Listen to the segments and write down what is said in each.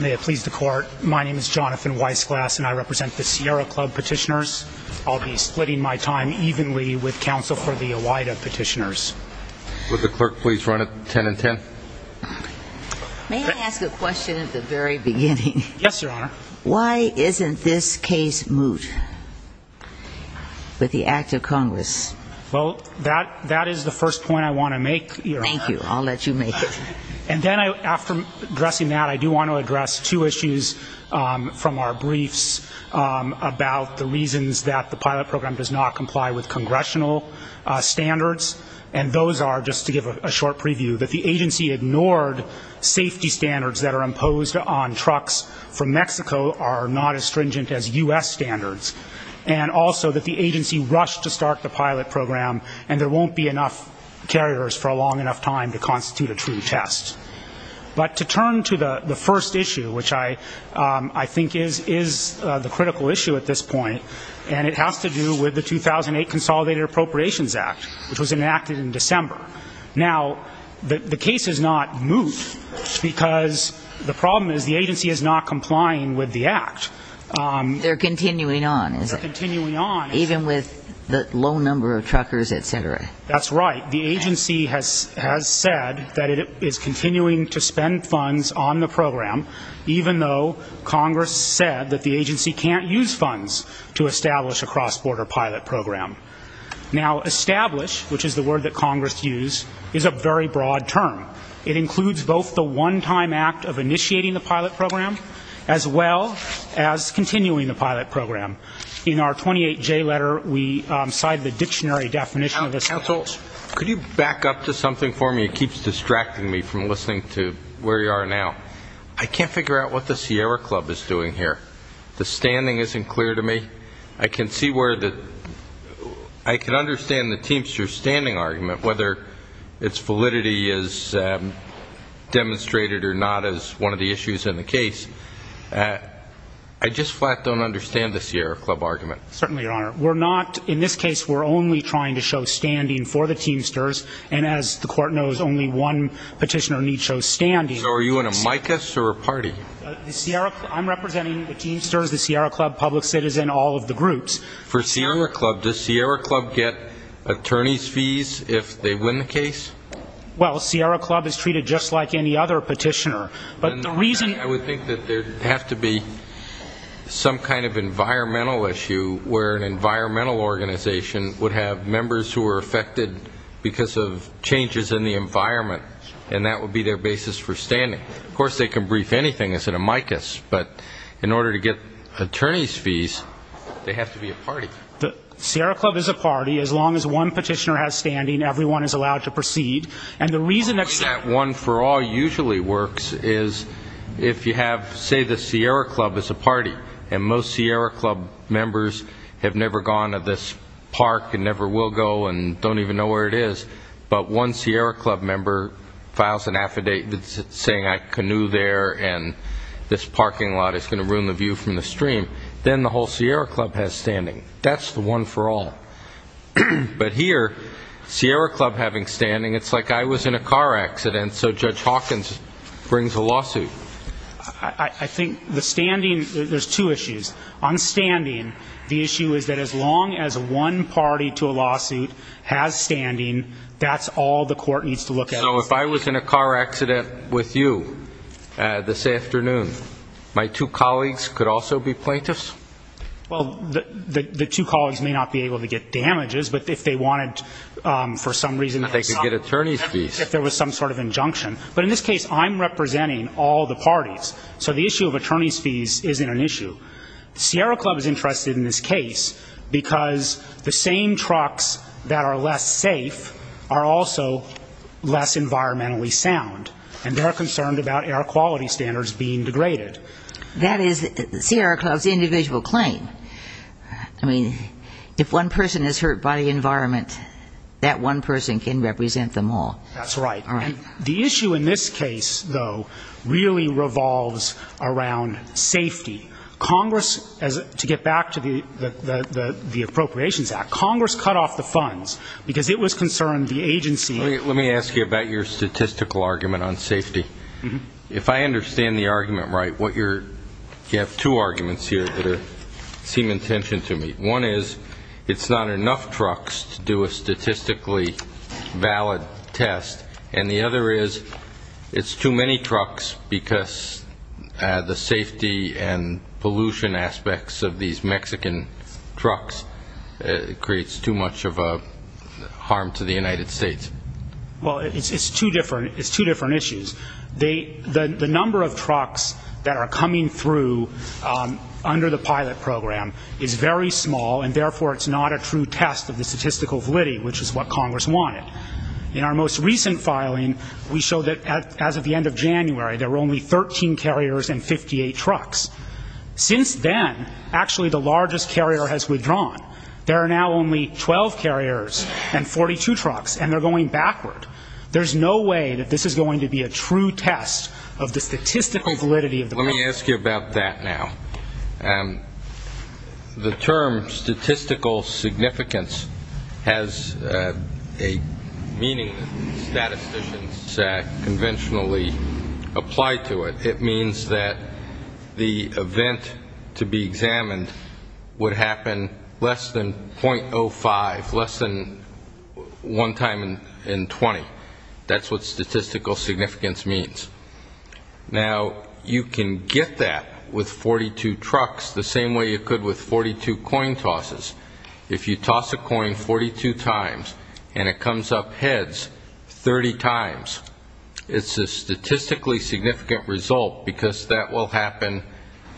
May it please the Court, my name is Jonathan Weissglass and I represent the Sierra Club petitioners. I'll be splitting my time evenly with counsel for the OIDA petitioners. Would the clerk please run it 10 and 10. May I ask a question at the very beginning? Yes, Your Honor. Why isn't this case moot with the Act of Congress? Well, that that is the first point I want to make. Thank you, Your Honor. I'll let you make it. And then after addressing that, I do want to address two issues from our briefs about the reasons that the pilot program does not comply with congressional standards. And those are, just to give a short preview, that the agency ignored safety standards that are imposed on trucks from Mexico are not as stringent as U.S. standards. And also that the agency rushed to start the pilot program and there won't be enough carriers for a long enough time to constitute a true test. But to turn to the the first issue, which I I think is is the critical issue at this point, and it has to do with the 2008 Consolidated Appropriations Act, which was enacted in December. Now, the case is not moot because the problem is the agency is not complying with the Act. They're continuing on. They're continuing on. Even with the low number of truckers, et cetera. That's right. The agency has has said that it is continuing to spend funds on the program, even though Congress said that the agency can't use funds to establish a cross-border pilot program. Now, establish, which is the word that Congress used, is a very broad term. It includes both the one-time act of initiating the pilot program, as well as continuing the pilot program. In our 28-J letter, we cited the dictionary definition of this. Counsel, could you back up to something for me? It keeps distracting me from listening to where you are now. I can't figure out what the Sierra Club is doing here. The standing isn't clear to me. I can see where the, I can understand the Teamster standing argument, whether its validity is demonstrated or not as one of the issues in the case. I just flat don't understand the Sierra Club argument. Certainly, Your Honor. We're not, in this case, we're only trying to show standing for the Teamsters. And as the court knows, only one petitioner needs to show standing. So are you in a micas or a party? The Sierra, I'm representing the Teamsters, the Sierra Club public citizen, all of the groups. For Sierra Club, does Sierra Club get attorney's fees if they win the case? Well, Sierra Club is treated just like any other some kind of environmental issue where an environmental organization would have members who are affected because of changes in the environment, and that would be their basis for standing. Of course, they can brief anything as in a micas, but in order to get attorney's fees, they have to be a party. The Sierra Club is a party. As long as one petitioner has standing, everyone is allowed to proceed. And the reason that one for all usually works is if you have, say, the Sierra Club is a party, and most Sierra Club members have never gone to this park and never will go and don't even know where it is, but one Sierra Club member files an affidavit saying I canoe there and this parking lot is going to ruin the view from the stream, then the whole Sierra Club has standing. That's the one for all. But here, Sierra Club having standing, it's like I was in a car accident, so Judge Hawkins brings a lawsuit. I think the standing, there's two issues. On standing, the issue is that as long as one party to a lawsuit has standing, that's all the court needs to look at. So if I was in a car accident with you this afternoon, my two colleagues could also be plaintiffs? Well, the two colleagues may not be able to get damages, but if they wanted for some reason, they could get attorney's fees if there was some sort of injunction. But in this case, I'm representing all the parties, so the issue of attorney's fees isn't an issue. Sierra Club is interested in this case because the same trucks that are less safe are also less environmentally sound, and they're concerned about air quality standards being degraded. That is Sierra Club's individual claim. I mean, if one person is hurt by the environment, that one person can represent them all. That's right. The issue in this case, though, really revolves around safety. Congress, to get back to the Appropriations Act, Congress cut off the funds because it was concerned the agency... Let me ask you about your statistical argument on safety. If I understand the argument right, you have two arguments here that seem intention to me. One is it's not enough trucks to do a statistically valid test, and the other is it's too many trucks because the safety and pollution aspects of these Mexican trucks creates too much of a harm to the United States. Well, it's two different issues. The number of trucks in the pilot program is very small, and therefore it's not a true test of the statistical validity, which is what Congress wanted. In our most recent filing, we showed that as of the end of January, there were only 13 carriers and 58 trucks. Since then, actually the largest carrier has withdrawn. There are now only 12 carriers and 42 trucks, and they're going backward. There's no way that this is going to be a true test of the statistical validity of the... Let me ask you about that now. The term statistical significance has a meaning that statisticians conventionally apply to it. It means that the event to be examined would happen less than 0.05, less than one time in 20. That's what you get with 42 trucks the same way you could with 42 coin tosses. If you toss a coin 42 times and it comes up heads 30 times, it's a statistically significant result because that will happen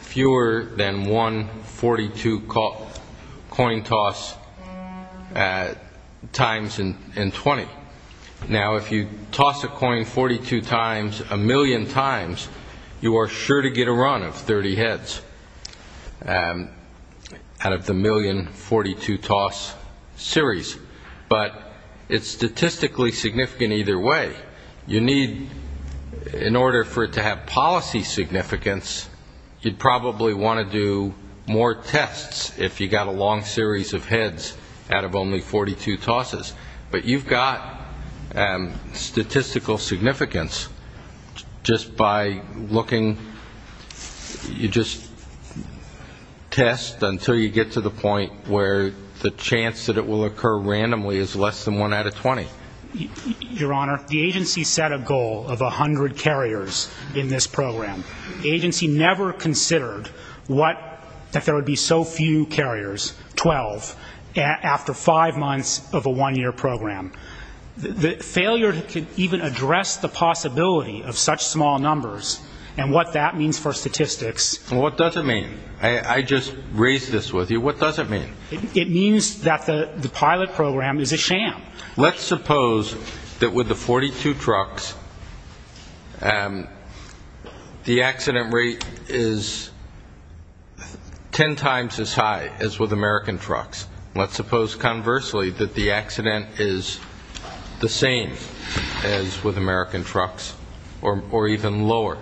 fewer than one 42 coin toss times in 20. Now, if you toss a coin 42 times a million times, you are sure to get a run of 30 heads out of the million 42 toss series, but it's statistically significant either way. You need, in order for it to have policy significance, you'd probably want to do more tests if you got a long series of heads out of only 42 tosses. But you've got statistical significance just by looking, you just test until you get to the point where the chance that it will occur randomly is less than one out of 20. Your Honor, the agency set a goal of 100 carriers in this program. The agency never considered that there would be so few carriers, 12, after five months of a one-year program. The failure to even address the possibility of such small numbers and what that means for statistics. What does it mean? I just raised this with you. What does it mean? Let's suppose that with the 42 trucks, the accident rate is 10 times as high as with American trucks. Let's suppose, conversely, that the accident is the same as with American trucks or even lower.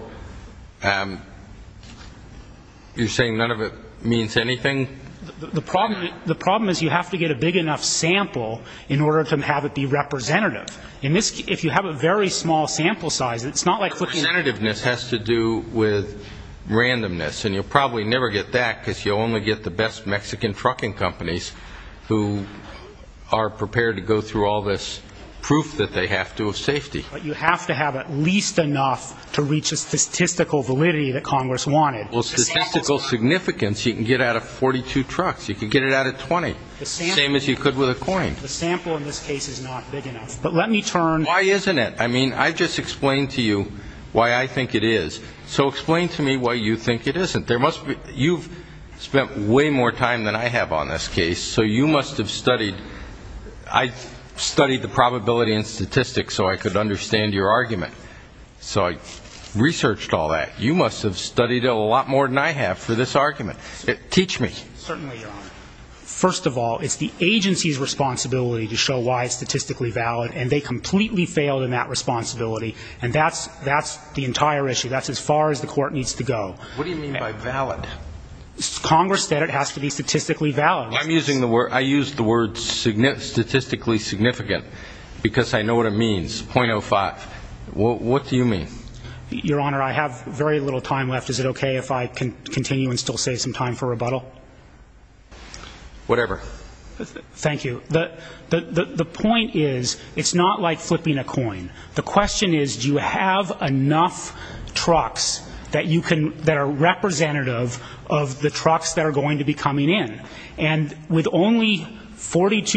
You're saying none of it means anything? The problem is you have to get a big enough sample in order to have it be representative. If you have a very small sample size, it's not like flipping a switch. The representativeness has to do with randomness and you'll probably never get that because you'll only get the best Mexican trucking companies who are prepared to go through all this proof that they have to of safety. You have to have at least enough to reach the statistical validity that Congress wanted. Well, statistical significance, you can get out of 42 trucks. You can get it out of 20, the same as you could with a coin. The sample in this case is not big enough. But let me turn... Why isn't it? I mean, I just explained to you why I think it is. So explain to me why you think it isn't. You've spent way more time than I have on this case, so you must have studied... I studied the probability and statistics so I could understand your argument. So I researched all that. You must have studied it a lot more than I have for this argument. Teach me. Certainly, Your Honor. First of all, it's the agency's responsibility to show why it's statistically valid and they completely failed in that responsibility and that's the entire issue. That's as far as the court needs to go. What do you mean by valid? Congress said it has to be statistically valid. I use the word statistically significant because I know what it means, .05. What do you mean? Your Honor, I have very little time left. Is it okay if I continue and still save some time for rebuttal? Whatever. Thank you. The point is, it's not like flipping a coin. The question is, do you have enough trucks that are representative of the trucks that are going to be coming in? And with only 100 that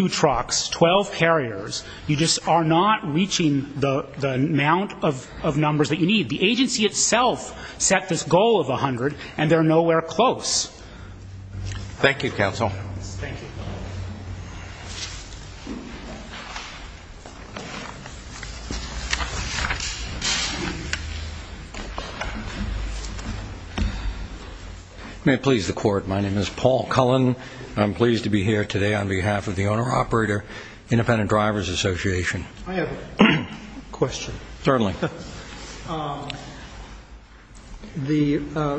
you need. The agency itself set this goal of 100 and they're nowhere close. Thank you, Counsel. May it please the Court, my name is Paul Cullen. I'm pleased to be here today on behalf of the Owner-Operator Independent Drivers Association. I have a question. Certainly. The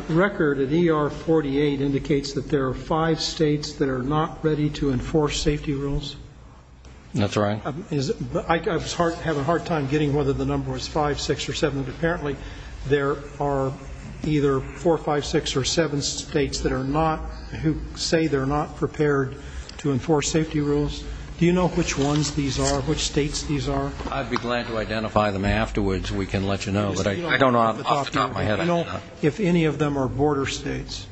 record at ER 48 indicates that there are five states that are not ready to enforce safety rules. That's right. I was having a hard time getting whether the number was five, six, or seven, but apparently there are either four, five, six, or seven states that are not, who say they're not prepared to enforce safety rules. Do you know which ones these are, which states these are? I'd be glad to identify them afterwards. We can let you know. But I don't know off the top of my head. Do you know if any of them are border states?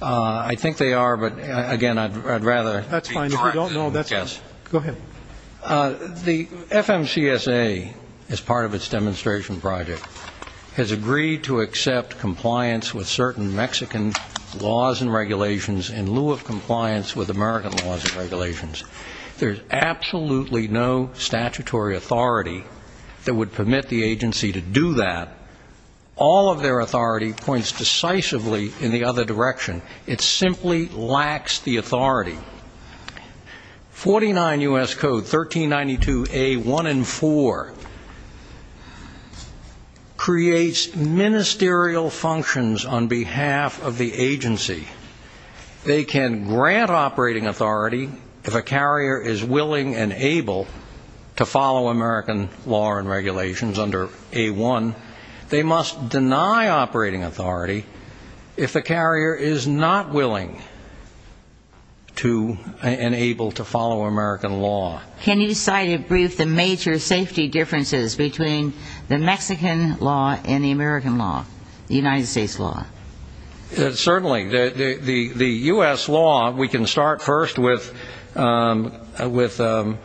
I think they are, but again, I'd rather be transparent. That's fine. If you don't know, that's fine. Go ahead. The FMCSA, as part of its demonstration project, has agreed to accept compliance with certain Mexican laws and regulations in lieu of compliance with American laws and regulations. There's absolutely no statutory authority that would permit the agency to do that. All of their authority points decisively in the other direction. It simply lacks the authority. 49 U.S. Code 1392A.1 and 4 creates ministerial functions on behalf of the owner-operator of the agency. They can grant operating authority if a carrier is willing and able to follow American law and regulations under A.1. They must deny operating authority if the carrier is not willing to and able to follow American law. Can you cite and brief the major safety differences between the Mexican law and the American law, the United States law? Certainly. The U.S. law, we can start first with commercial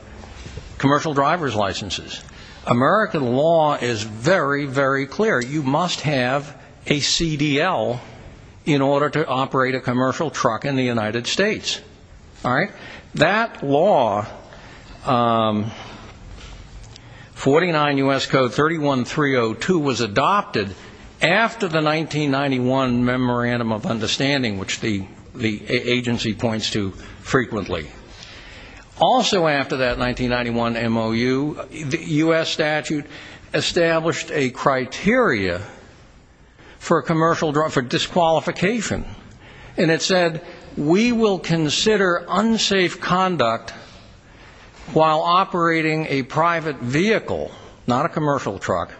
driver's licenses. American law is very, very clear. You must have a CDL in order to operate a commercial truck in the United States. That law, 49 U.S. Code 31302, was adopted after the United States 1991 Memorandum of Understanding, which the agency points to frequently. Also after that 1991 MOU, the U.S. statute established a criteria for disqualification, and it said, we will consider unsafe conduct while operating a private vehicle, not a commercial truck,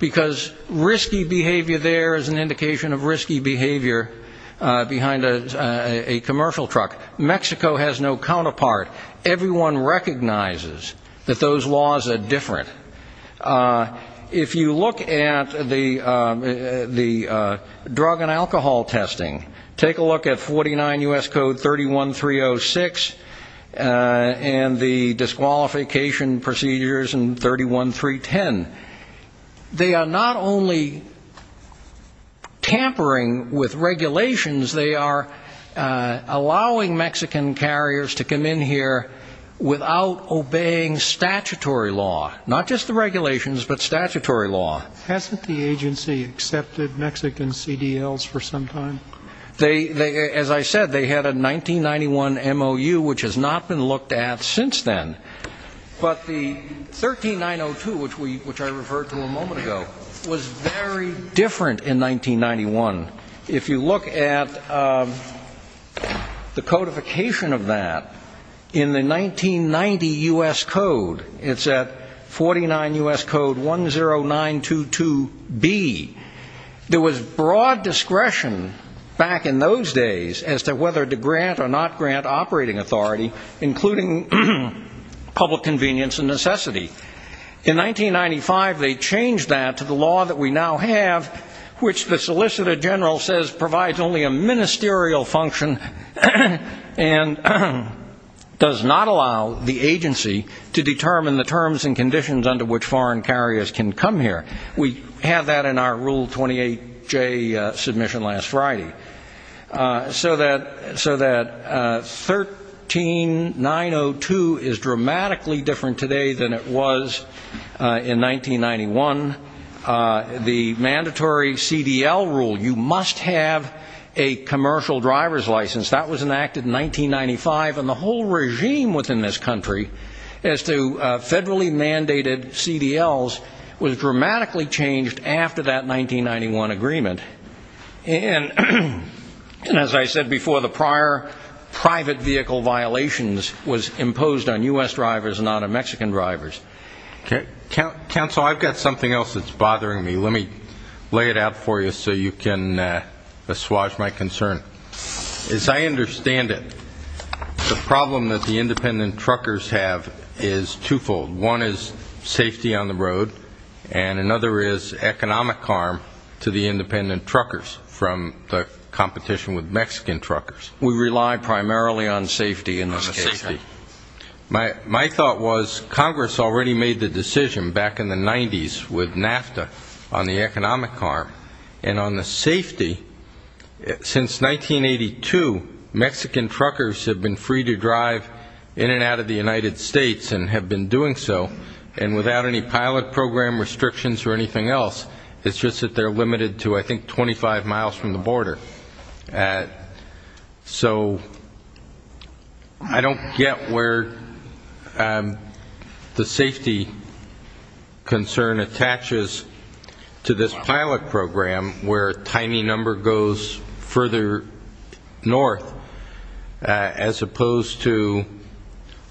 because risky behavior there is an indication of risky behavior behind a commercial truck. Mexico has no counterpart. Everyone recognizes that those laws are different. If you look at the drug and alcohol testing, take a look at 49 U.S. Code 31306 and the U.S. statute. They are not only tampering with regulations, they are allowing Mexican carriers to come in here without obeying statutory law. Not just the regulations, but statutory law. Hasn't the agency accepted Mexican CDLs for some time? As I said, they had a 1991 MOU, which has not been looked at since then. But the 13902, which I referred to a moment ago, was very different in 1991. If you look at the codification of that, in the 1990 U.S. Code, it's at 49 U.S. Code 10922B, there was broad discretion back in those days as to whether to grant or not grant operating authority, including public convenience and necessity. In 1995, they changed that to the law that we now have, which the Solicitor General says provides only a ministerial function and does not allow the agency to determine the terms and conditions under which foreign carriers can come here. We have that in our Rule 28J submission last Friday. So that 13902 is dramatically different today than it was in 1991. The mandatory CDL rule, you must have a commercial driver's license, that was enacted in 1995. And the whole regime within this country, as to federally mandated CDLs, was dramatically changed after that As I said before, the prior private vehicle violations was imposed on U.S. drivers and not on Mexican drivers. Counsel, I've got something else that's bothering me. Let me lay it out for you so you can assuage my concern. As I understand it, the problem that the independent truckers have is twofold. One is safety on the road, and another is economic harm to the independent truckers from the competition with Mexican truckers. We rely primarily on safety in this case. My thought was Congress already made the decision back in the 90s with NAFTA on the economic harm. And on the safety, since 1982, Mexican truckers have been free to drive in and out of the United States and have been doing so, and without any pilot program restrictions or anything else. It's just that they're limited to, I think, 25 miles from the border. So I don't get where the safety concern attaches to this pilot program, where a tiny number goes further north, as opposed to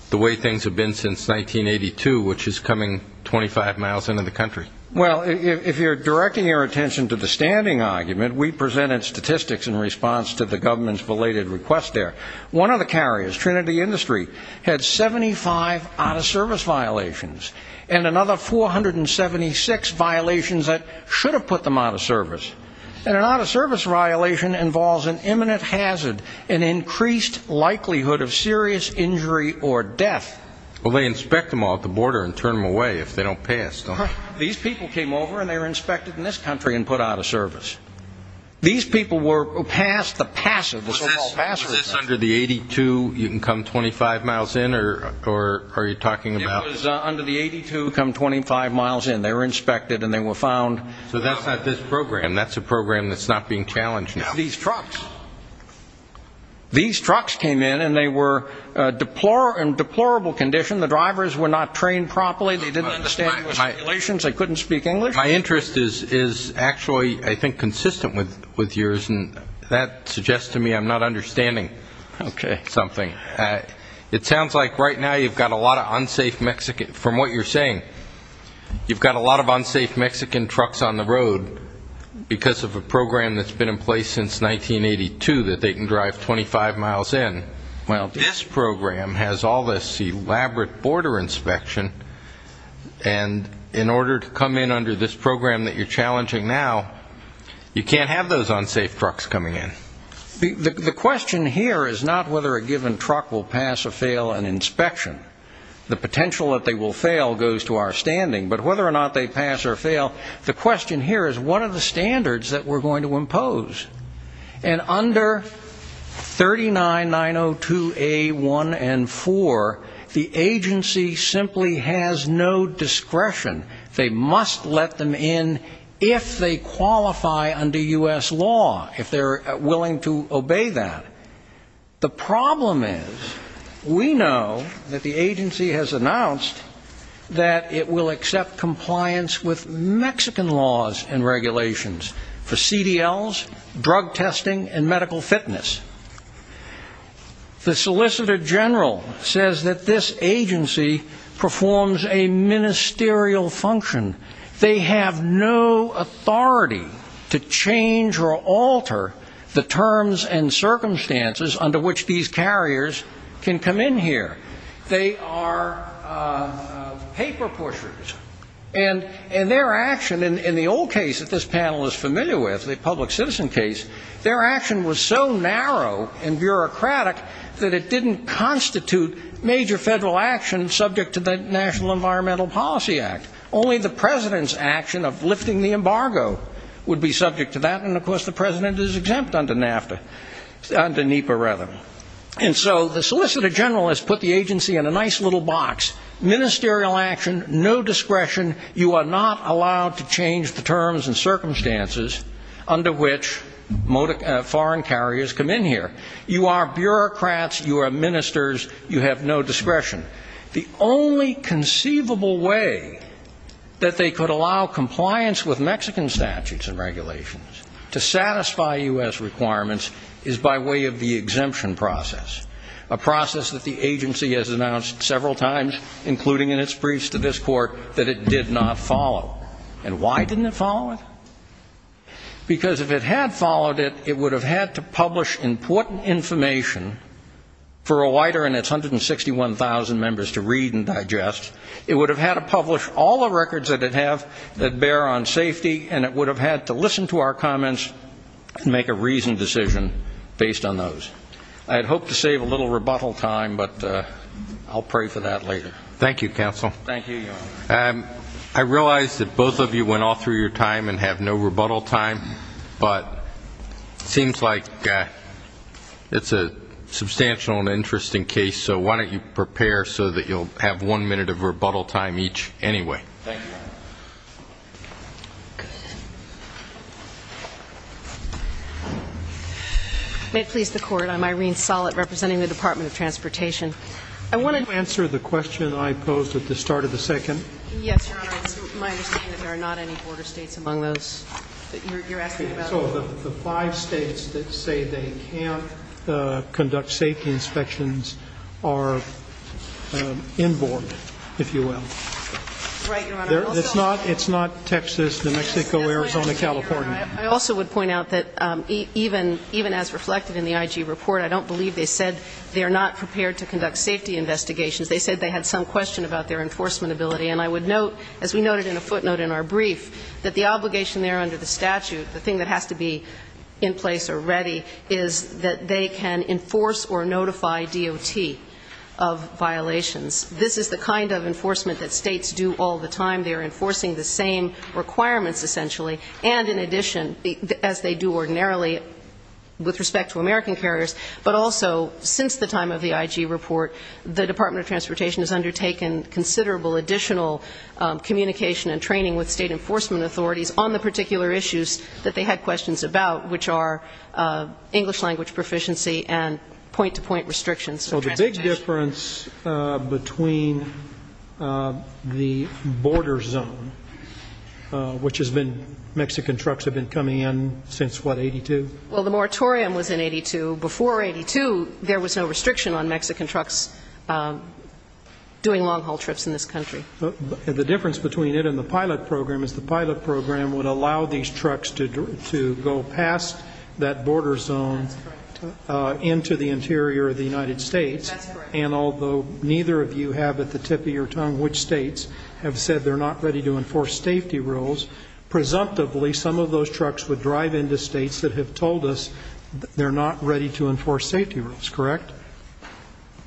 the way things have been since 1982, which is coming 25 miles into the country. Well, if you're directing your attention to the standing argument, we presented statistics in response to the government's belated request there. One of the carriers, Trinity Industry, had 75 out-of-service violations, and another 476 violations that should have put them out of service. And an out-of-service violation involves an imminent hazard, an increased likelihood of serious injury or death. Well, they inspect them off the border and turn them away if they don't pass, don't they? These people came over, and they were inspected in this country and put out of service. These people were passed the passive, the so-called passive. Was this under the 82, you can come 25 miles in, or are you talking about? It was under the 82, come 25 miles in. They were inspected, and they were found. So that's not this program. That's a program that's not being challenged now. These trucks came in, and they were in deplorable condition. The drivers were not trained properly. They didn't understand the regulations. They couldn't speak English. My interest is actually, I think, consistent with yours, and that suggests to me I'm not understanding something. It sounds like right now you've got a lot of unsafe Mexican, from what you're saying, you've got a lot of unsafe Mexican trucks on the road because of a program that's been in place since 1982 that they can drive 25 miles in. Well, this program has all this elaborate border inspection, and in order to come in under this program that you're challenging now, you can't have those unsafe trucks coming in. The question here is not whether a given truck will pass or fail an inspection. The potential that they will fail goes to our standing. But whether or not they pass or fail, the agency has no discretion to impose. And under 39902A1 and 4, the agency simply has no discretion. They must let them in if they qualify under U.S. law, if they're willing to obey that. The problem is, we know that the agency has announced that it will accept compliance with laws, drug testing, and medical fitness. The Solicitor General says that this agency performs a ministerial function. They have no authority to change or alter the terms and circumstances under which these carriers can come in here. They are paper pushers. And their action, in the old case that this panel is familiar with, the public citizen case, their action was so narrow and bureaucratic that it didn't constitute major federal action subject to the National Environmental Policy Act. Only the President's action of lifting the embargo would be subject to that, and of course the President is exempt under NAFTA, under NEPA rather. And so the Solicitor General has put the agency in a nice little box. Ministerial action, no discretion, you are not allowed to change the terms and circumstances under which foreign carriers come in here. You are bureaucrats, you are ministers, you have no discretion. The only conceivable way that they could allow compliance with Mexican statutes and regulations to satisfy U.S. requirements is by way of the exemption process, a process that the U.S. court that it did not follow. And why didn't it follow it? Because if it had followed it, it would have had to publish important information for a wider and its 161,000 members to read and digest. It would have had to publish all the records that it have that bear on safety, and it would have had to listen to our comments and make a reasoned decision based on those. I'd hope to save a little rebuttal time, but I'll pray for that later. Thank you, Counsel. Thank you, Your Honor. I realize that both of you went all through your time and have no rebuttal time, but it seems like it's a substantial and interesting case, so why don't you prepare so that you'll have one minute of rebuttal time each anyway. Thank you, Your Honor. May it please the Court, I'm Irene Sollett representing the Department of Transportation. Can you answer the question I posed at the start of the second? Yes, Your Honor. It's my understanding that there are not any border states among those that you're asking about. So the five states that say they can't conduct safety inspections are in board, if you will. Right, Your Honor. It's not Texas, New Mexico, Arizona, California. I also would point out that even as reflected in the IG report, I don't believe they said they're not prepared to conduct safety investigations. They said they had some question about their enforcement ability. And I would note, as we noted in a footnote in our brief, that the obligation there under the statute, the thing that has to be in place or ready, is that they can enforce or notify DOT of violations. This is the kind of enforcement that states do all the time. They're enforcing the same requirements, essentially, and in addition, as they do ordinarily with respect to American carriers. But also, since the time of the IG report, the Department of Transportation has undertaken considerable additional communication and training with state enforcement authorities on the particular issues that they had questions about, which are English language proficiency and point-to-point restrictions. So the big difference between the border zone, which has been Mexican trucks have been coming in since, what, 82? Well, the moratorium was in 82. Before 82, there was no restriction on Mexican trucks doing long-haul trips in this country. The difference between it and the pilot program is the pilot program would allow these trucks to go past that border zone into the interior of the United States. That's correct. And although neither of you have at the tip of your tongue which states have said they're not ready to enforce safety rules, presumptively, some of those trucks would drive into states that have told us they're not ready to enforce safety rules, correct?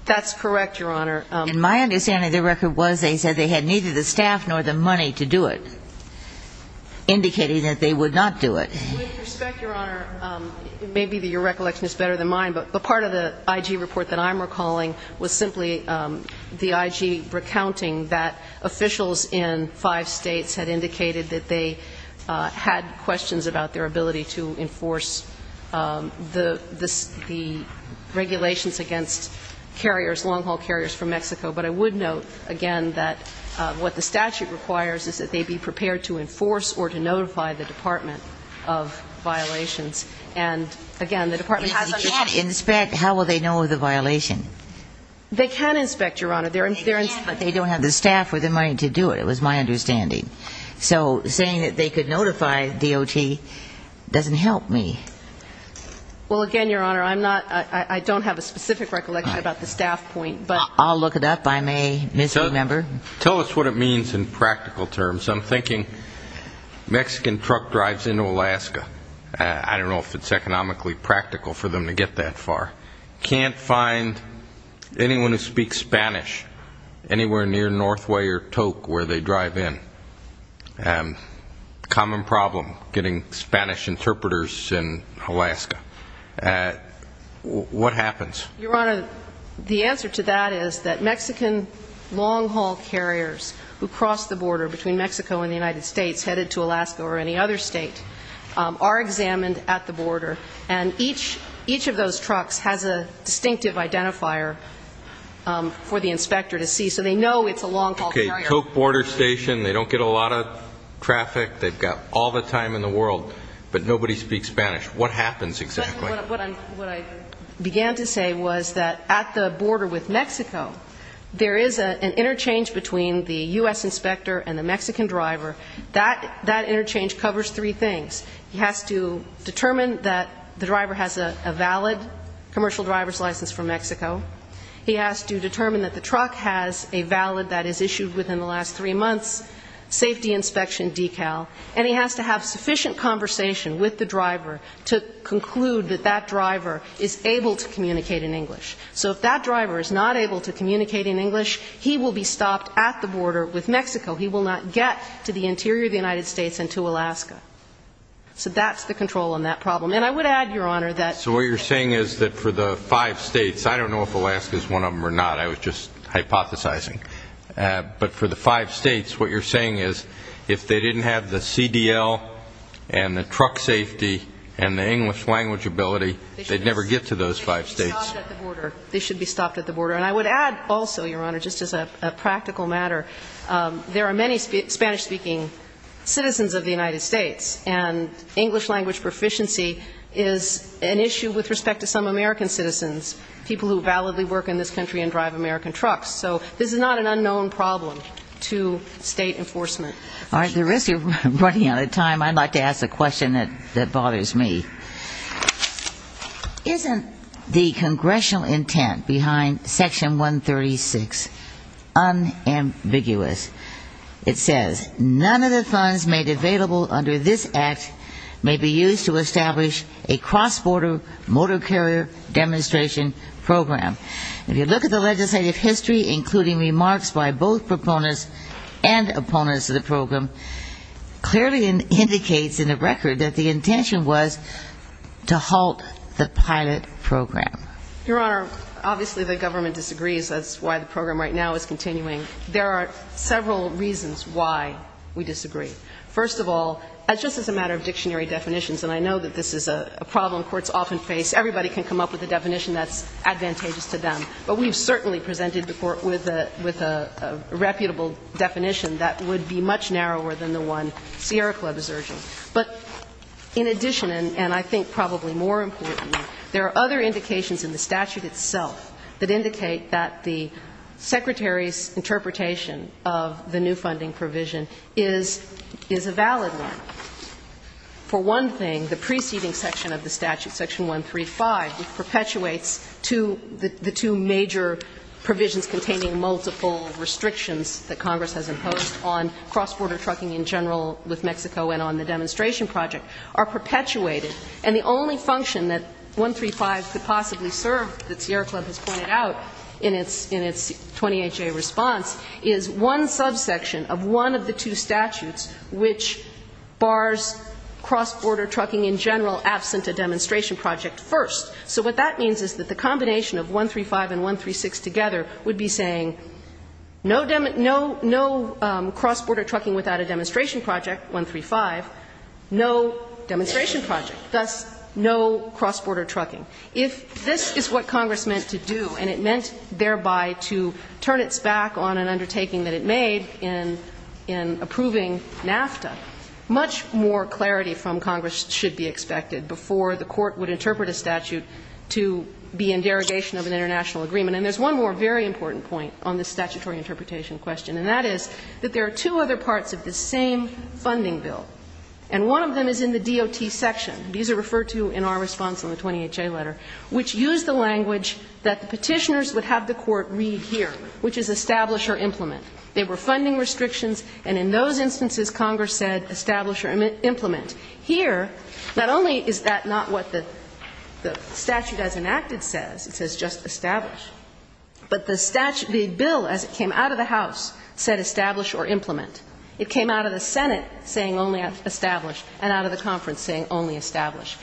That's correct, Your Honor. And my understanding of the record was they said they had neither the staff nor the money to do it, indicating that they would not do it. With respect, Your Honor, maybe your recollection is better than mine, but part of the IG report that I'm recalling was simply the IG recounting that officials in five states had indicated that they had questions about their ability to enforce the regulations against carriers, long-haul carriers from Mexico. But I would note, again, that what the statute requires is that they be prepared to enforce or to notify the Department of Violations. And, again, the Department has understood that. So how will they know of the violation? They can inspect, Your Honor. They don't have the staff or the money to do it. It was my understanding. So saying that they could notify DOT doesn't help me. Well, again, Your Honor, I don't have a specific recollection about the staff point. I'll look it up. I may misremember. Tell us what it means in practical terms. I'm thinking Mexican truck drives into Alaska. I don't know if it's economically practical for them to get that far. Can't find anyone who speaks Spanish anywhere near Northway or Tok where they drive in. Common problem, getting Spanish interpreters in Alaska. What happens? Your Honor, the answer to that is that Mexican long-haul carriers who cross the border between Mexico and the United States headed to Alaska or any other state are examined at the border. And each of those trucks has a distinctive identifier for the inspector to see. So they know it's a long-haul carrier. Okay, Tok border station, they don't get a lot of traffic, they've got all the time in the world, but nobody speaks Spanish. What happens exactly? What I began to say was that at the border with Mexico, there is an interchange between the U.S. inspector and the Mexican driver. That interchange covers three things. He has to determine that the driver has a valid commercial driver's license from Mexico. He has to determine that the truck has a valid, that is issued within the last three months, safety inspection decal, and he has to have sufficient conversation with the driver to conclude that that driver is able to communicate in English. So if that driver is not able to communicate in English, he will be stopped at the border with Mexico. He will not get to the interior of the United States and to Alaska. So that's the control on that problem. And I would add, Your Honor, that so what you're saying is that for the five states, I don't know if Alaska is one of them or not. I was just hypothesizing. But for the five states, what you're saying is if they didn't have the CDL and the truck safety and the English language ability, they'd never get to those five states. They should be stopped at the border. They should be stopped at the border. And I would add also, Your Honor, just as a practical matter, there are many Spanish-speaking citizens of the United States, and English language proficiency is an issue with respect to some American citizens, people who validly work in this country and drive American trucks. So this is not an unknown problem to state enforcement. At the risk of running out of time, I'd like to ask a question that bothers me. Isn't the congressional intent behind Section 136 unambiguous? It says, none of the funds made available under this act may be used to establish a cross-border motor carrier demonstration program. If you look at the legislative history, including remarks by both proponents and opponents of the program, clearly indicates in the record that the intention was to halt the pilot program. Your Honor, obviously the government disagrees. That's why the program right now is continuing. There are several reasons why we disagree. First of all, just as a matter of dictionary definitions, and I know that this is a problem courts often face, everybody can come up with a definition that's advantageous to them. But we've certainly presented the Court with a reputable definition that would be much narrower than the one Sierra Club is urging. But in addition, and I think probably more importantly, there are other indications in the statute itself that indicate that the Secretary's interpretation of the new funding provision is a valid one. For one thing, the preceding section of the statute, Section 135, perpetuates the two major provisions containing multiple restrictions that Congress has imposed on cross-border trucking in general with Mexico and on the demonstration project, are perpetuated. And the only function that 135 could possibly serve, that Sierra Club has pointed out in its 28-J response, is one subsection of one of the two statutes which bars cross-border trucking in general absent a demonstration project first. So what that means is that the combination of 135 and 136 together would be saying no cross-border trucking without a demonstration project, 135, no demonstration project, thus no cross-border trucking. If this is what Congress meant to do and it meant thereby to turn its back on an undertaking that it made in approving NAFTA, much more clarity from Congress should be expected before the Court would interpret a statute to be in derogation of an international agreement. And there's one more very important point on this statutory interpretation question, and that is that there are two other parts of the same funding bill, and one of them is in the DOT section. These are referred to in our response on the 28-J letter, which used the language that the Petitioners would have the Court read here, which is establish or implement. There were funding restrictions, and in those instances Congress said establish or implement. Here, not only is that not what the statute as enacted says, it says just establish, but the bill as it came out of the House said establish or implement. It came out of the Senate saying only establish and out of the conference saying only establish.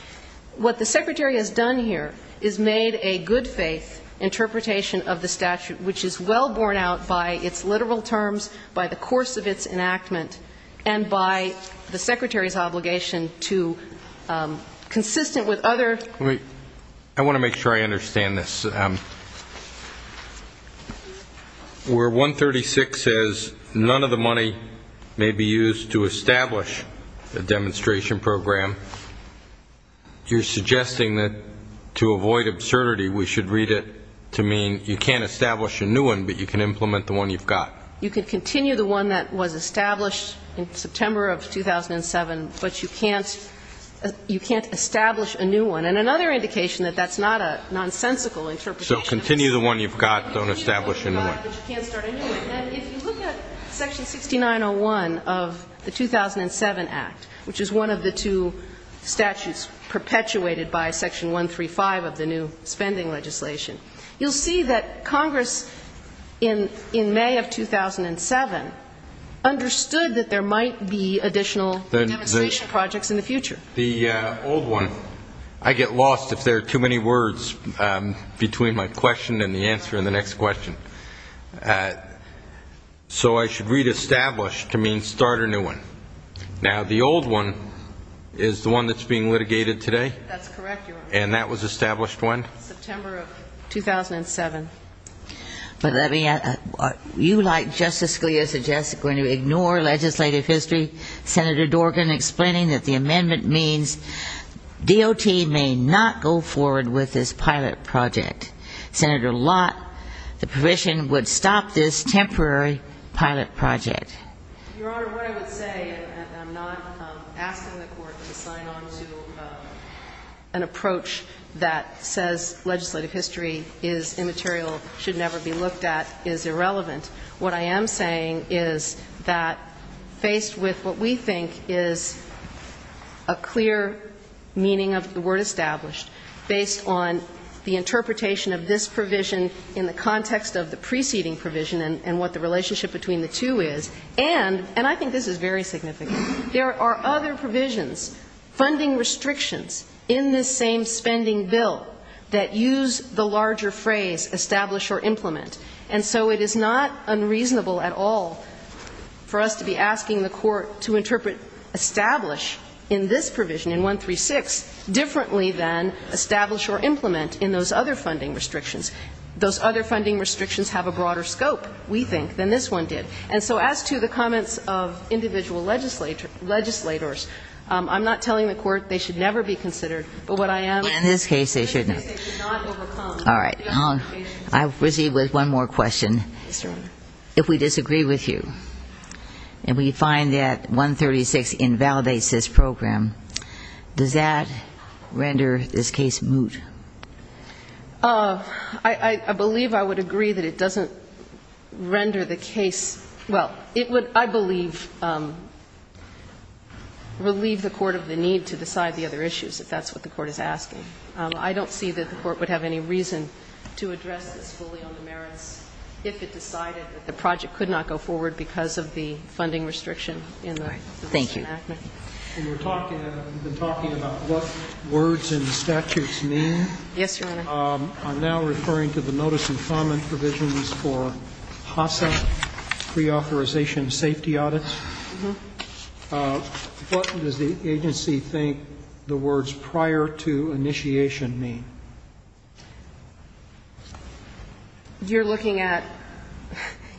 What the Secretary has done here is made a good-faith interpretation of the statute, which is well borne out by its literal terms, by the course of its enactment, and by the Secretary's obligation to consistent with other. I want to make sure I understand this. Where 136 says none of the money may be used to establish a demonstration program, you're suggesting that to avoid absurdity we should read it to mean you can't establish a new one, but you can implement the one you've got. You can continue the one that was established in September of 2007, but you can't establish a new one. And another indication that that's not a nonsensical interpretation. So continue the one you've got, don't establish a new one. But you can't start a new one. And if you look at section 6901 of the 2007 Act, which is one of the two statutes perpetuated by section 135 of the new spending legislation, you'll see that Congress in May of 2007 understood that there might be additional demonstration projects in the future. The old one, I get lost if there are too many words between my question and the answer in the next question. So I should read established to mean start a new one. Now, the old one is the one that's being litigated today? That's correct, Your Honor. And that was established when? September of 2007. You, like Justice Scalia, suggest we're going to ignore legislative history. Senator Dorgan explaining that the amendment means DOT may not go forward with this pilot project. Senator Lott, the provision would stop this temporary pilot project. Your Honor, what I would say, and I'm not asking the Court to sign on to an approach that says legislative history is immaterial, should never be looked at, is irrelevant. What I am saying is that faced with what we think is a clear meaning of the word established, based on the interpretation of this provision in the context of the preceding provision and what the relationship between the two is, and I think this is very significant. There are other provisions, funding restrictions, in this same spending bill that use the larger phrase establish or implement. And so it is not unreasonable at all for us to be asking the Court to interpret establish in this provision, in 136, differently than establish or implement in those other funding restrictions. Those other funding restrictions have a broader scope, we think, than this one did. And so as to the comments of individual legislators, I'm not telling the Court they should never be considered. But what I am saying is 136 should not overcome. All right. I'll proceed with one more question. Yes, Your Honor. If we disagree with you and we find that 136 invalidates this program, does that render this case moot? I believe I would agree that it doesn't render the case, well, it would, I believe, relieve the Court of the need to decide the other issues, if that's what the Court is asking. I don't see that the Court would have any reason to address this fully on the merits if it decided that the project could not go forward because of the funding restriction All right. Thank you. We've been talking about what words in the statutes mean. Yes, Your Honor. I'm now referring to the notice of comment provisions for HASA, preauthorization safety audits. What does the agency think the words prior to initiation mean? You're looking at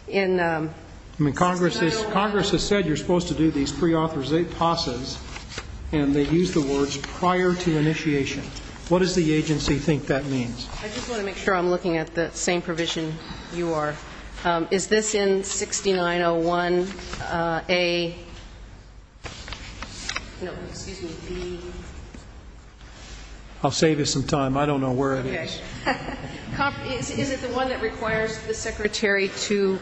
in the title? Congress has said you're supposed to do these preauthorized HASAs and they use the words prior to initiation. What does the agency think that means? I just want to make sure I'm looking at the same provision you are. Is this in 6901A, no, excuse me, B? I'll save you some time. I don't know where it is. Is it the one that requires the Secretary to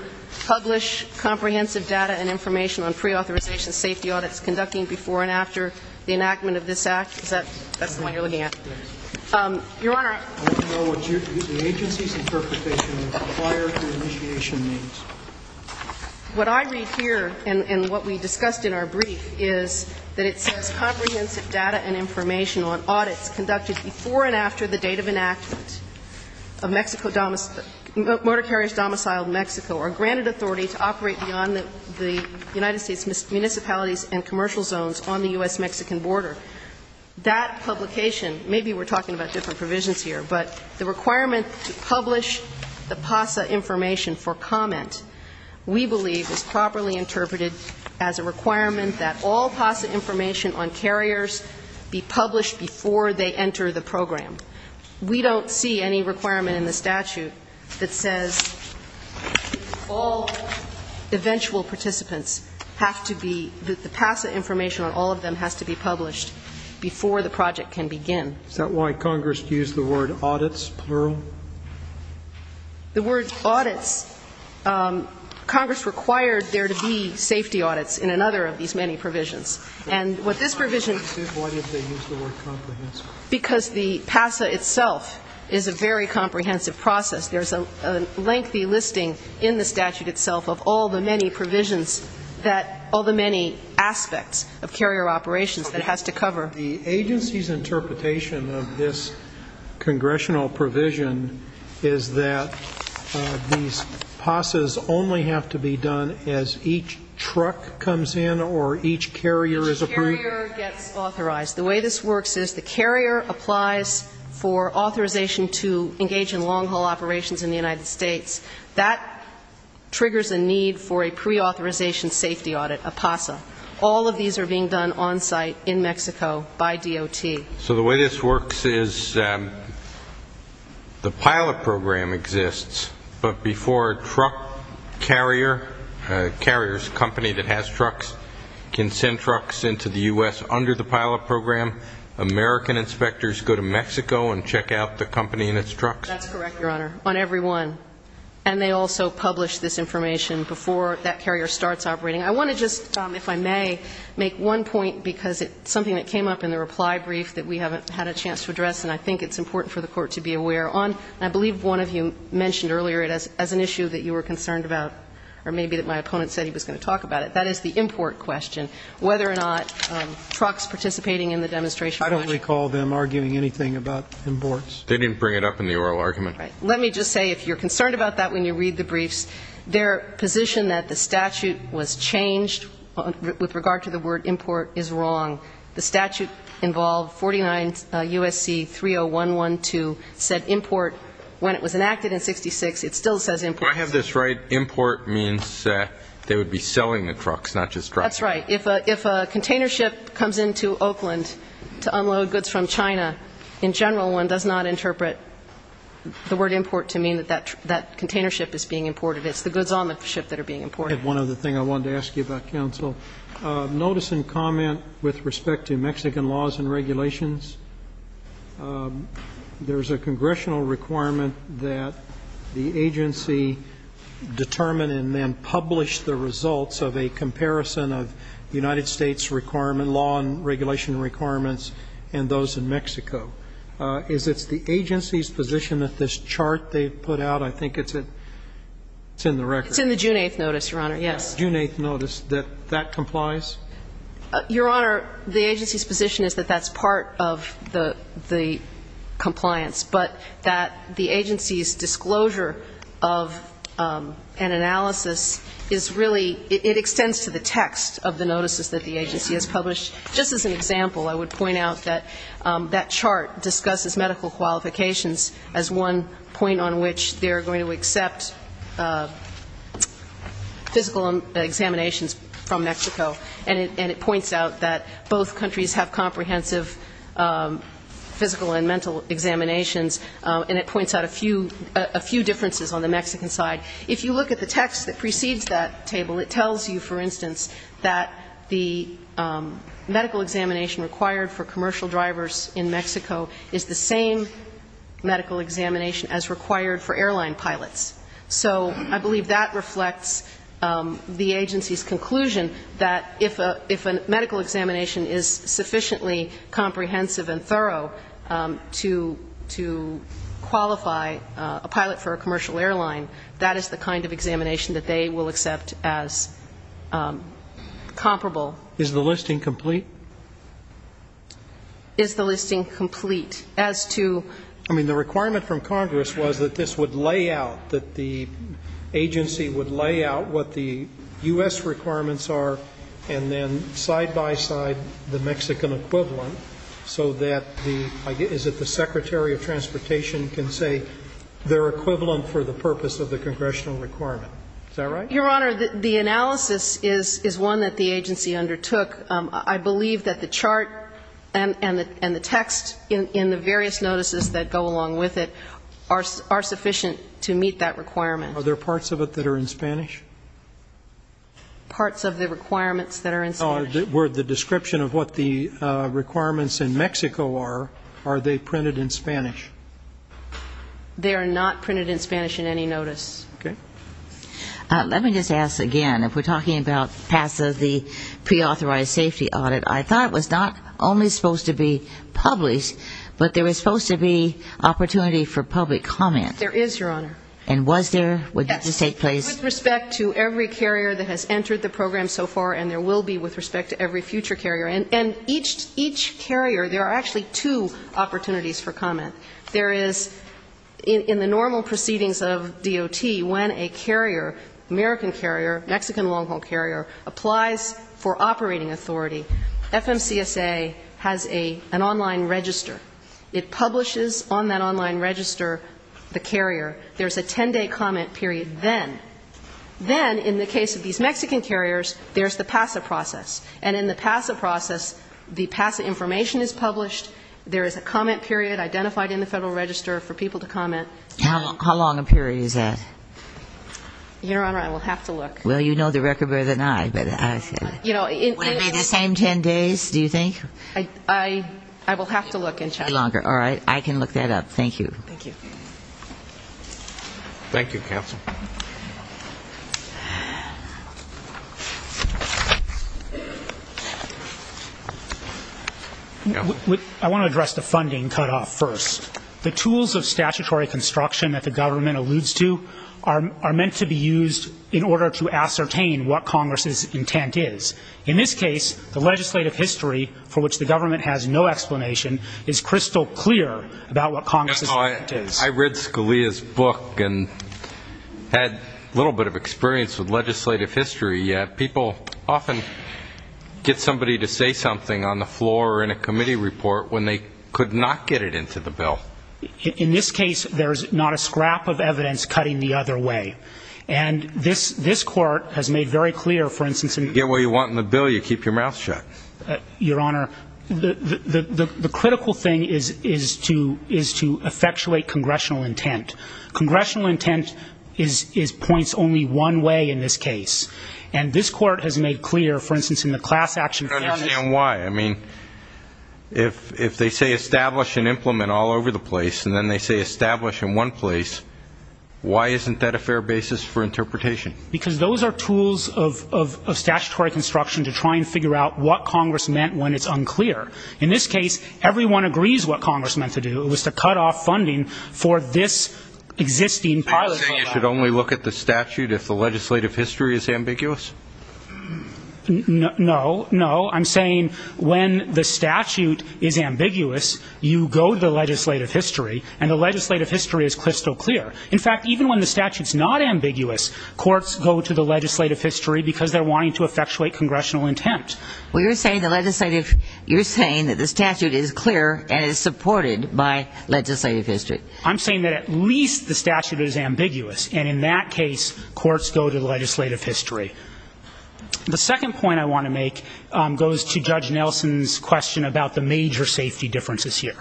publish comprehensive data and information on preauthorization safety audits conducting before and after the enactment of this Act? That's the one you're looking at? Yes. Your Honor. I want to know what the agency's interpretation of prior to initiation means. What I read here and what we discussed in our brief is that it says comprehensive data and information on audits conducted before and after the date of enactment of Mexico, motor carriers domiciled in Mexico are granted authority to operate beyond the United States municipalities and commercial zones on the U.S.-Mexican border. That publication, maybe we're talking about different provisions here, but the requirement to publish the PASA information for comment we believe is properly interpreted as a requirement that all PASA information on carriers be published before they enter the program. We don't see any requirement in the statute that says all eventual participants have to be, the PASA information on all of them has to be published before the project can begin. Is that why Congress used the word audits, plural? The word audits, Congress required there to be safety audits in another of these many provisions. And what this provision... Why did they use the word comprehensive? Because the PASA itself is a very comprehensive process. There's a lengthy listing in the statute itself of all the many provisions that all the many aspects of carrier operations that it has to cover. The agency's interpretation of this congressional provision is that these PASAs only have to be done as each truck comes in or each carrier is approved? Each carrier gets authorized. The way this works is the carrier applies for authorization to engage in long-haul operations in the United States. That triggers a need for a preauthorization safety audit, a PASA. All of these are being done on-site in Mexico by DOT. So the way this works is the pilot program exists, but before a truck carrier, a carrier's company that has trucks can send trucks into the U.S. under the pilot program, American inspectors go to Mexico and check out the company and its trucks? That's correct, Your Honor, on every one. And they also publish this information before that carrier starts operating. I want to just, if I may, make one point, because it's something that came up in the reply brief that we haven't had a chance to address and I think it's important for the Court to be aware on. I believe one of you mentioned earlier it as an issue that you were concerned about, or maybe that my opponent said he was going to talk about it. That is the import question, whether or not trucks participating in the demonstration were actually. I don't recall them arguing anything about imports. They didn't bring it up in the oral argument. Let me just say, if you're concerned about that when you read the briefs, their position that the statute was changed with regard to the word import is wrong. The statute involved 49 U.S.C. 30112 said import. When it was enacted in 66, it still says import. Do I have this right? Import means they would be selling the trucks, not just driving them. That's right. If a container ship comes into Oakland to unload goods from China, in general, one does not interpret the word import to mean that that container ship is being imported. It's the goods on the ship that are being imported. One other thing I wanted to ask you about, counsel. Notice in comment with respect to Mexican laws and regulations, there is a congressional requirement that the agency determine and then publish the results of a comparison of United States requirement, law and regulation requirements, and those in Mexico. Is it the agency's position that this chart they put out? I think it's in the record. It's in the June 8th notice, Your Honor. Yes. June 8th notice that that complies? Your Honor, the agency's position is that that's part of the compliance, but that the agency's disclosure of an analysis is really ‑‑ it extends to the text of the notices that the agency has published. Just as an example, I would point out that that chart discusses medical qualifications as one point on which they're going to accept physical examinations from Mexico, and it points out that both countries have comprehensive physical and mental examinations, and it points out a few differences on the Mexican side. If you look at the text that precedes that table, it tells you, for instance, that the medical examination required for commercial drivers in Mexico is the same medical examination as required for airline pilots. So I believe that reflects the agency's conclusion that if a medical examination is sufficiently comprehensive and thorough to qualify a pilot for a commercial airline, that is the kind of examination that they will accept as comparable. Is the listing complete? I mean, the requirement from Congress was that this would lay out, that the agency would lay out what the U.S. requirements are, and then side by side the Mexican equivalent so that the ‑‑ is it the Secretary of Transportation can say they're equivalent for the purpose of the congressional requirement. Is that right? Your Honor, the analysis is one that the agency undertook. I believe that the chart and the text in the various notices that go along with it are sufficient to meet that requirement. Are there parts of it that are in Spanish? Parts of the requirements that are in Spanish. Were the description of what the requirements in Mexico are, are they printed in Spanish? They are not printed in Spanish in any notice. Okay. Let me just ask again, if we're talking about PASA, the preauthorized safety audit, I thought it was not only supposed to be published, but there was supposed to be opportunity for public comment. There is, Your Honor. And was there? Would that have to take place? With respect to every carrier that has entered the program so far, and there will be with respect to every future carrier. And each carrier, there are actually two opportunities for comment. There is, in the normal proceedings of DOT, when a carrier, American carrier, Mexican long-haul carrier, applies for operating authority, FMCSA has an online register. It publishes on that online register the carrier. There's a 10-day comment period then. Then, in the case of these Mexican carriers, there's the PASA process. And in the PASA process, the PASA information is published, there is a comment period identified in the Federal Register for people to comment. How long a period is that? Your Honor, I will have to look. Well, you know the record better than I. Would it be the same 10 days, do you think? I will have to look and check. All right. I can look that up. Thank you. Thank you. Thank you, counsel. I want to address the funding cutoff first. The tools of statutory construction that the government alludes to are meant to be used in order to ascertain what Congress's intent is. In this case, the legislative history for which the government has no explanation is crystal clear about what Congress's intent is. I read Scalia's book and had a little bit of experience with legislative history. People often get somebody to say something on the floor or in a committee report when they could not get it into the bill. In this case, there is not a scrap of evidence cutting the other way. And this Court has made very clear, for instance, in the bill. You get what you want in the bill, you keep your mouth shut. Your Honor, the critical thing is to effectuate congressional intent. Congressional intent points only one way in this case. And this Court has made clear, for instance, in the class action plan. I don't understand why. I mean, if they say establish and implement all over the place and then they say establish in one place, why isn't that a fair basis for interpretation? Because those are tools of statutory construction to try and figure out what Congress meant when it's unclear. In this case, everyone agrees what Congress meant to do. It was to cut off funding for this existing pilot program. Are you saying you should only look at the statute if the legislative history is ambiguous? No, no. I'm saying when the statute is ambiguous, you go to the legislative history, and the legislative history is crystal clear. In fact, even when the statute is not ambiguous, courts go to the legislative history because they're wanting to effectuate congressional intent. Well, you're saying that the statute is clear and is supported by legislative history. I'm saying that at least the statute is ambiguous, and in that case courts go to the legislative history. The second point I want to make goes to Judge Nelson's question about the major safety differences here.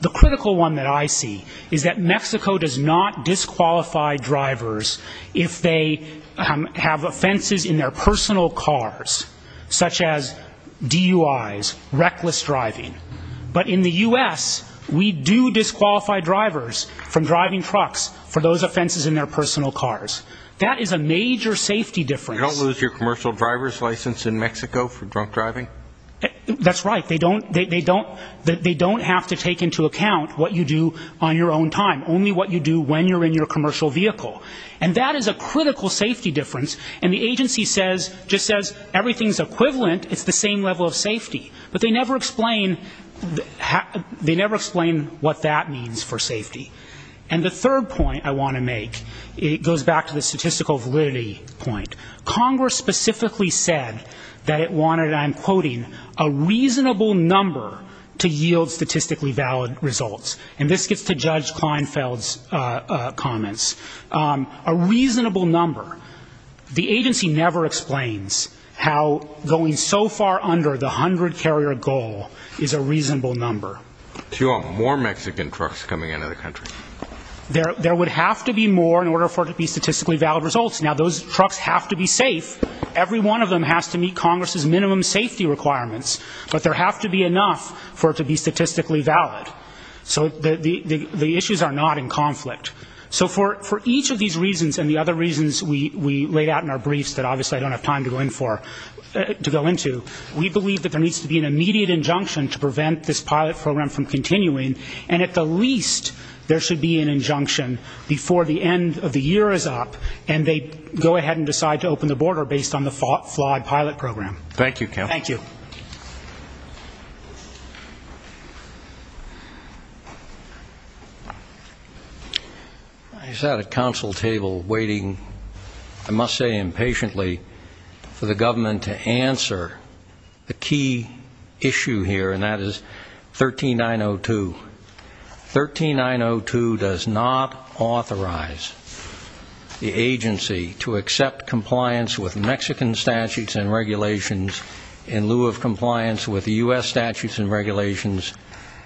The critical one that I see is that Mexico does not disqualify drivers if they have offenses in their personal cars, such as DUIs, reckless driving. But in the U.S., we do disqualify drivers from driving trucks for those offenses in their personal cars. That is a major safety difference. You don't lose your commercial driver's license in Mexico for drunk driving? That's right. They don't have to take into account what you do on your own time, only what you do when you're in your commercial vehicle. And that is a critical safety difference, and the agency just says everything's equivalent, it's the same level of safety. But they never explain what that means for safety. And the third point I want to make goes back to the statistical validity point. Congress specifically said that it wanted, and I'm quoting, a reasonable number to yield statistically valid results. And this gets to Judge Kleinfeld's comments. A reasonable number. The agency never explains how going so far under the 100-carrier goal is a reasonable number. Do you want more Mexican trucks coming into the country? There would have to be more in order for it to be statistically valid results. Now, those trucks have to be safe. Every one of them has to meet Congress's minimum safety requirements. But there has to be enough for it to be statistically valid. So the issues are not in conflict. So for each of these reasons and the other reasons we laid out in our briefs that obviously I don't have time to go into, we believe that there needs to be an immediate injunction to prevent this pilot program from continuing, and at the least there should be an injunction before the end of the year is up and they go ahead and decide to open the border based on the flawed pilot program. Thank you, Kevin. Thank you. I sat at council table waiting, I must say impatiently, for the government to answer the key issue here, and that is 13902. 13902 does not authorize the agency to accept compliance with Mexican statutes and regulations in lieu of compliance with U.S. statutes and regulations,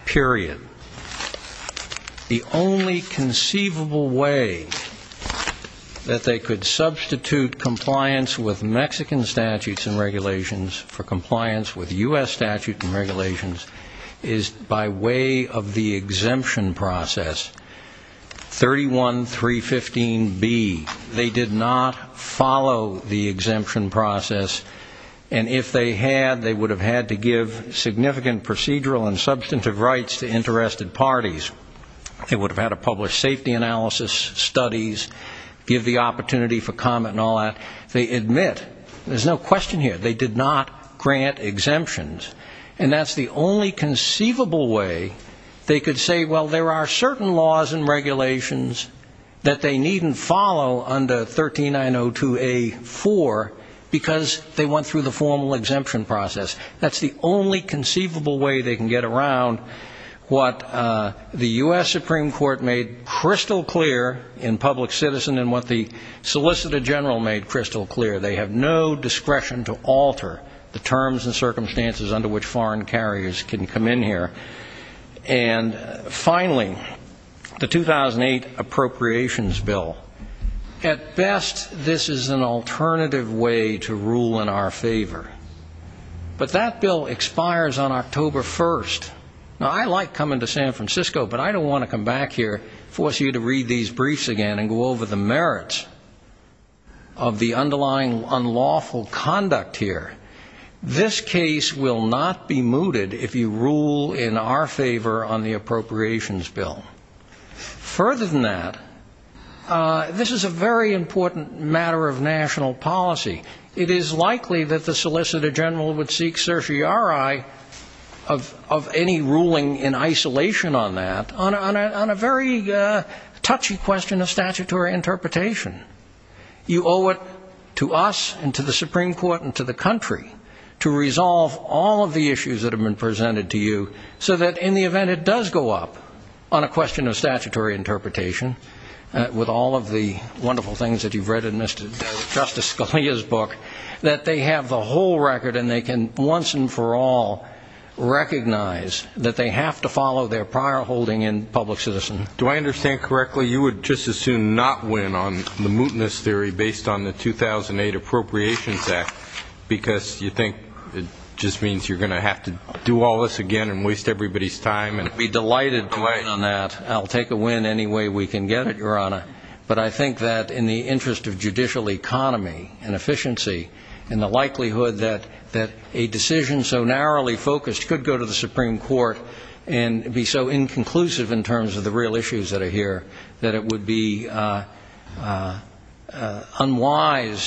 period. The only conceivable way that they could substitute compliance with Mexican statutes and regulations for compliance with U.S. statutes and regulations is by way of the exemption process, 31315B. They did not follow the exemption process, and if they had they would have had to give significant procedural and substantive rights to interested parties. They would have had to publish safety analysis studies, give the opportunity for comment and all that. They admit, there's no question here, they did not grant exemptions, and that's the only conceivable way they could say, well, there are certain laws and regulations that they needn't follow under 13902A.4 because they went through the formal exemption process. That's the only conceivable way they can get around what the U.S. Supreme Court made crystal clear in Public Citizen and what the Solicitor General made crystal clear. They have no discretion to alter the terms and circumstances under which foreign carriers can come in here. And finally, the 2008 Appropriations Bill. At best, this is an alternative way to rule in our favor, but that bill expires on October 1st. Now, I like coming to San Francisco, but I don't want to come back here, force you to read these briefs again and go over the merits of the underlying unlawful conduct here. This case will not be mooted if you rule in our favor on the Appropriations Bill. Further than that, this is a very important matter of national policy. It is likely that the Solicitor General would seek certiorari of any ruling in isolation on that, on a very touchy question of statutory interpretation. You owe it to us and to the Supreme Court and to the country to resolve all of the issues that have been presented to you so that in the event it does go up on a question of statutory interpretation, with all of the wonderful things that you've read in Justice Scalia's book, that they have the whole record and they can once and for all recognize that they have to follow their prior holding in public citizen. Do I understand correctly you would just as soon not win on the mootness theory based on the 2008 Appropriations Act because you think it just means you're going to have to do all this again and waste everybody's time? I'd be delighted to win on that. I'll take a win any way we can get it, Your Honor. But I think that in the interest of judicial economy and efficiency and the likelihood that a decision so narrowly focused could go to the Supreme Court and be so inconclusive in terms of the real issues that are here, that it would be unwise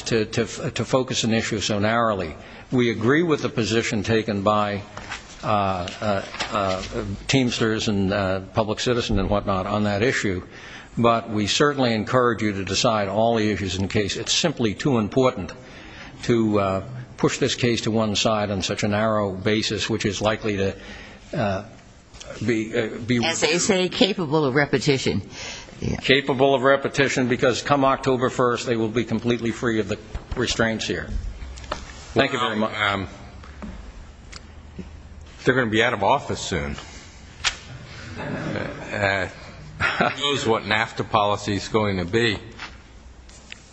to focus an issue so narrowly. We agree with the position taken by Teamsters and Public Citizen and whatnot on that issue, but we certainly encourage you to decide all the issues in the case. It's simply too important to push this case to one side on such a narrow basis, which is likely to be... As they say, capable of repetition. Capable of repetition because come October 1st, they will be completely free of the restraints here. Thank you very much. They're going to be out of office soon. Who knows what NAFTA policy is going to be?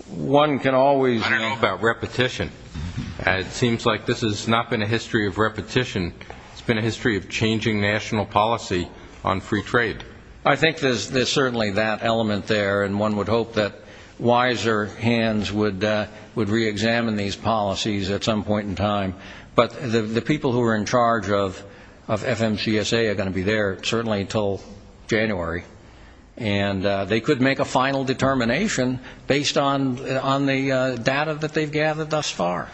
One can always talk about repetition. It seems like this has not been a history of repetition. It's been a history of changing national policy on free trade. I think there's certainly that element there, and one would hope that wiser hands would reexamine these policies at some point in time. But the people who are in charge of FMCSA are going to be there certainly until January, and they could make a final determination based on the data that they've gathered thus far.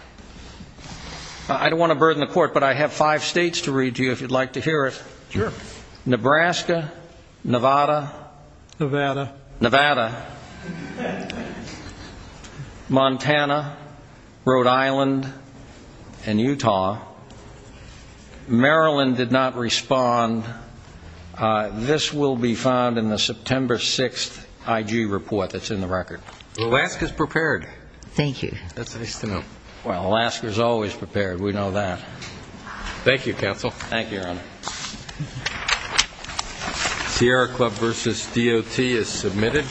I don't want to burden the Court, but I have five states to read to you if you'd like to hear it. Sure. Nebraska, Nevada. Nevada. Nevada. Montana. Montana, Rhode Island, and Utah. Maryland did not respond. This will be found in the September 6th IG report that's in the record. Alaska's prepared. Thank you. That's nice to know. Well, Alaska's always prepared. We know that. Thank you, Counsel. Thank you, Your Honor. Sierra Club v. DOT is submitted.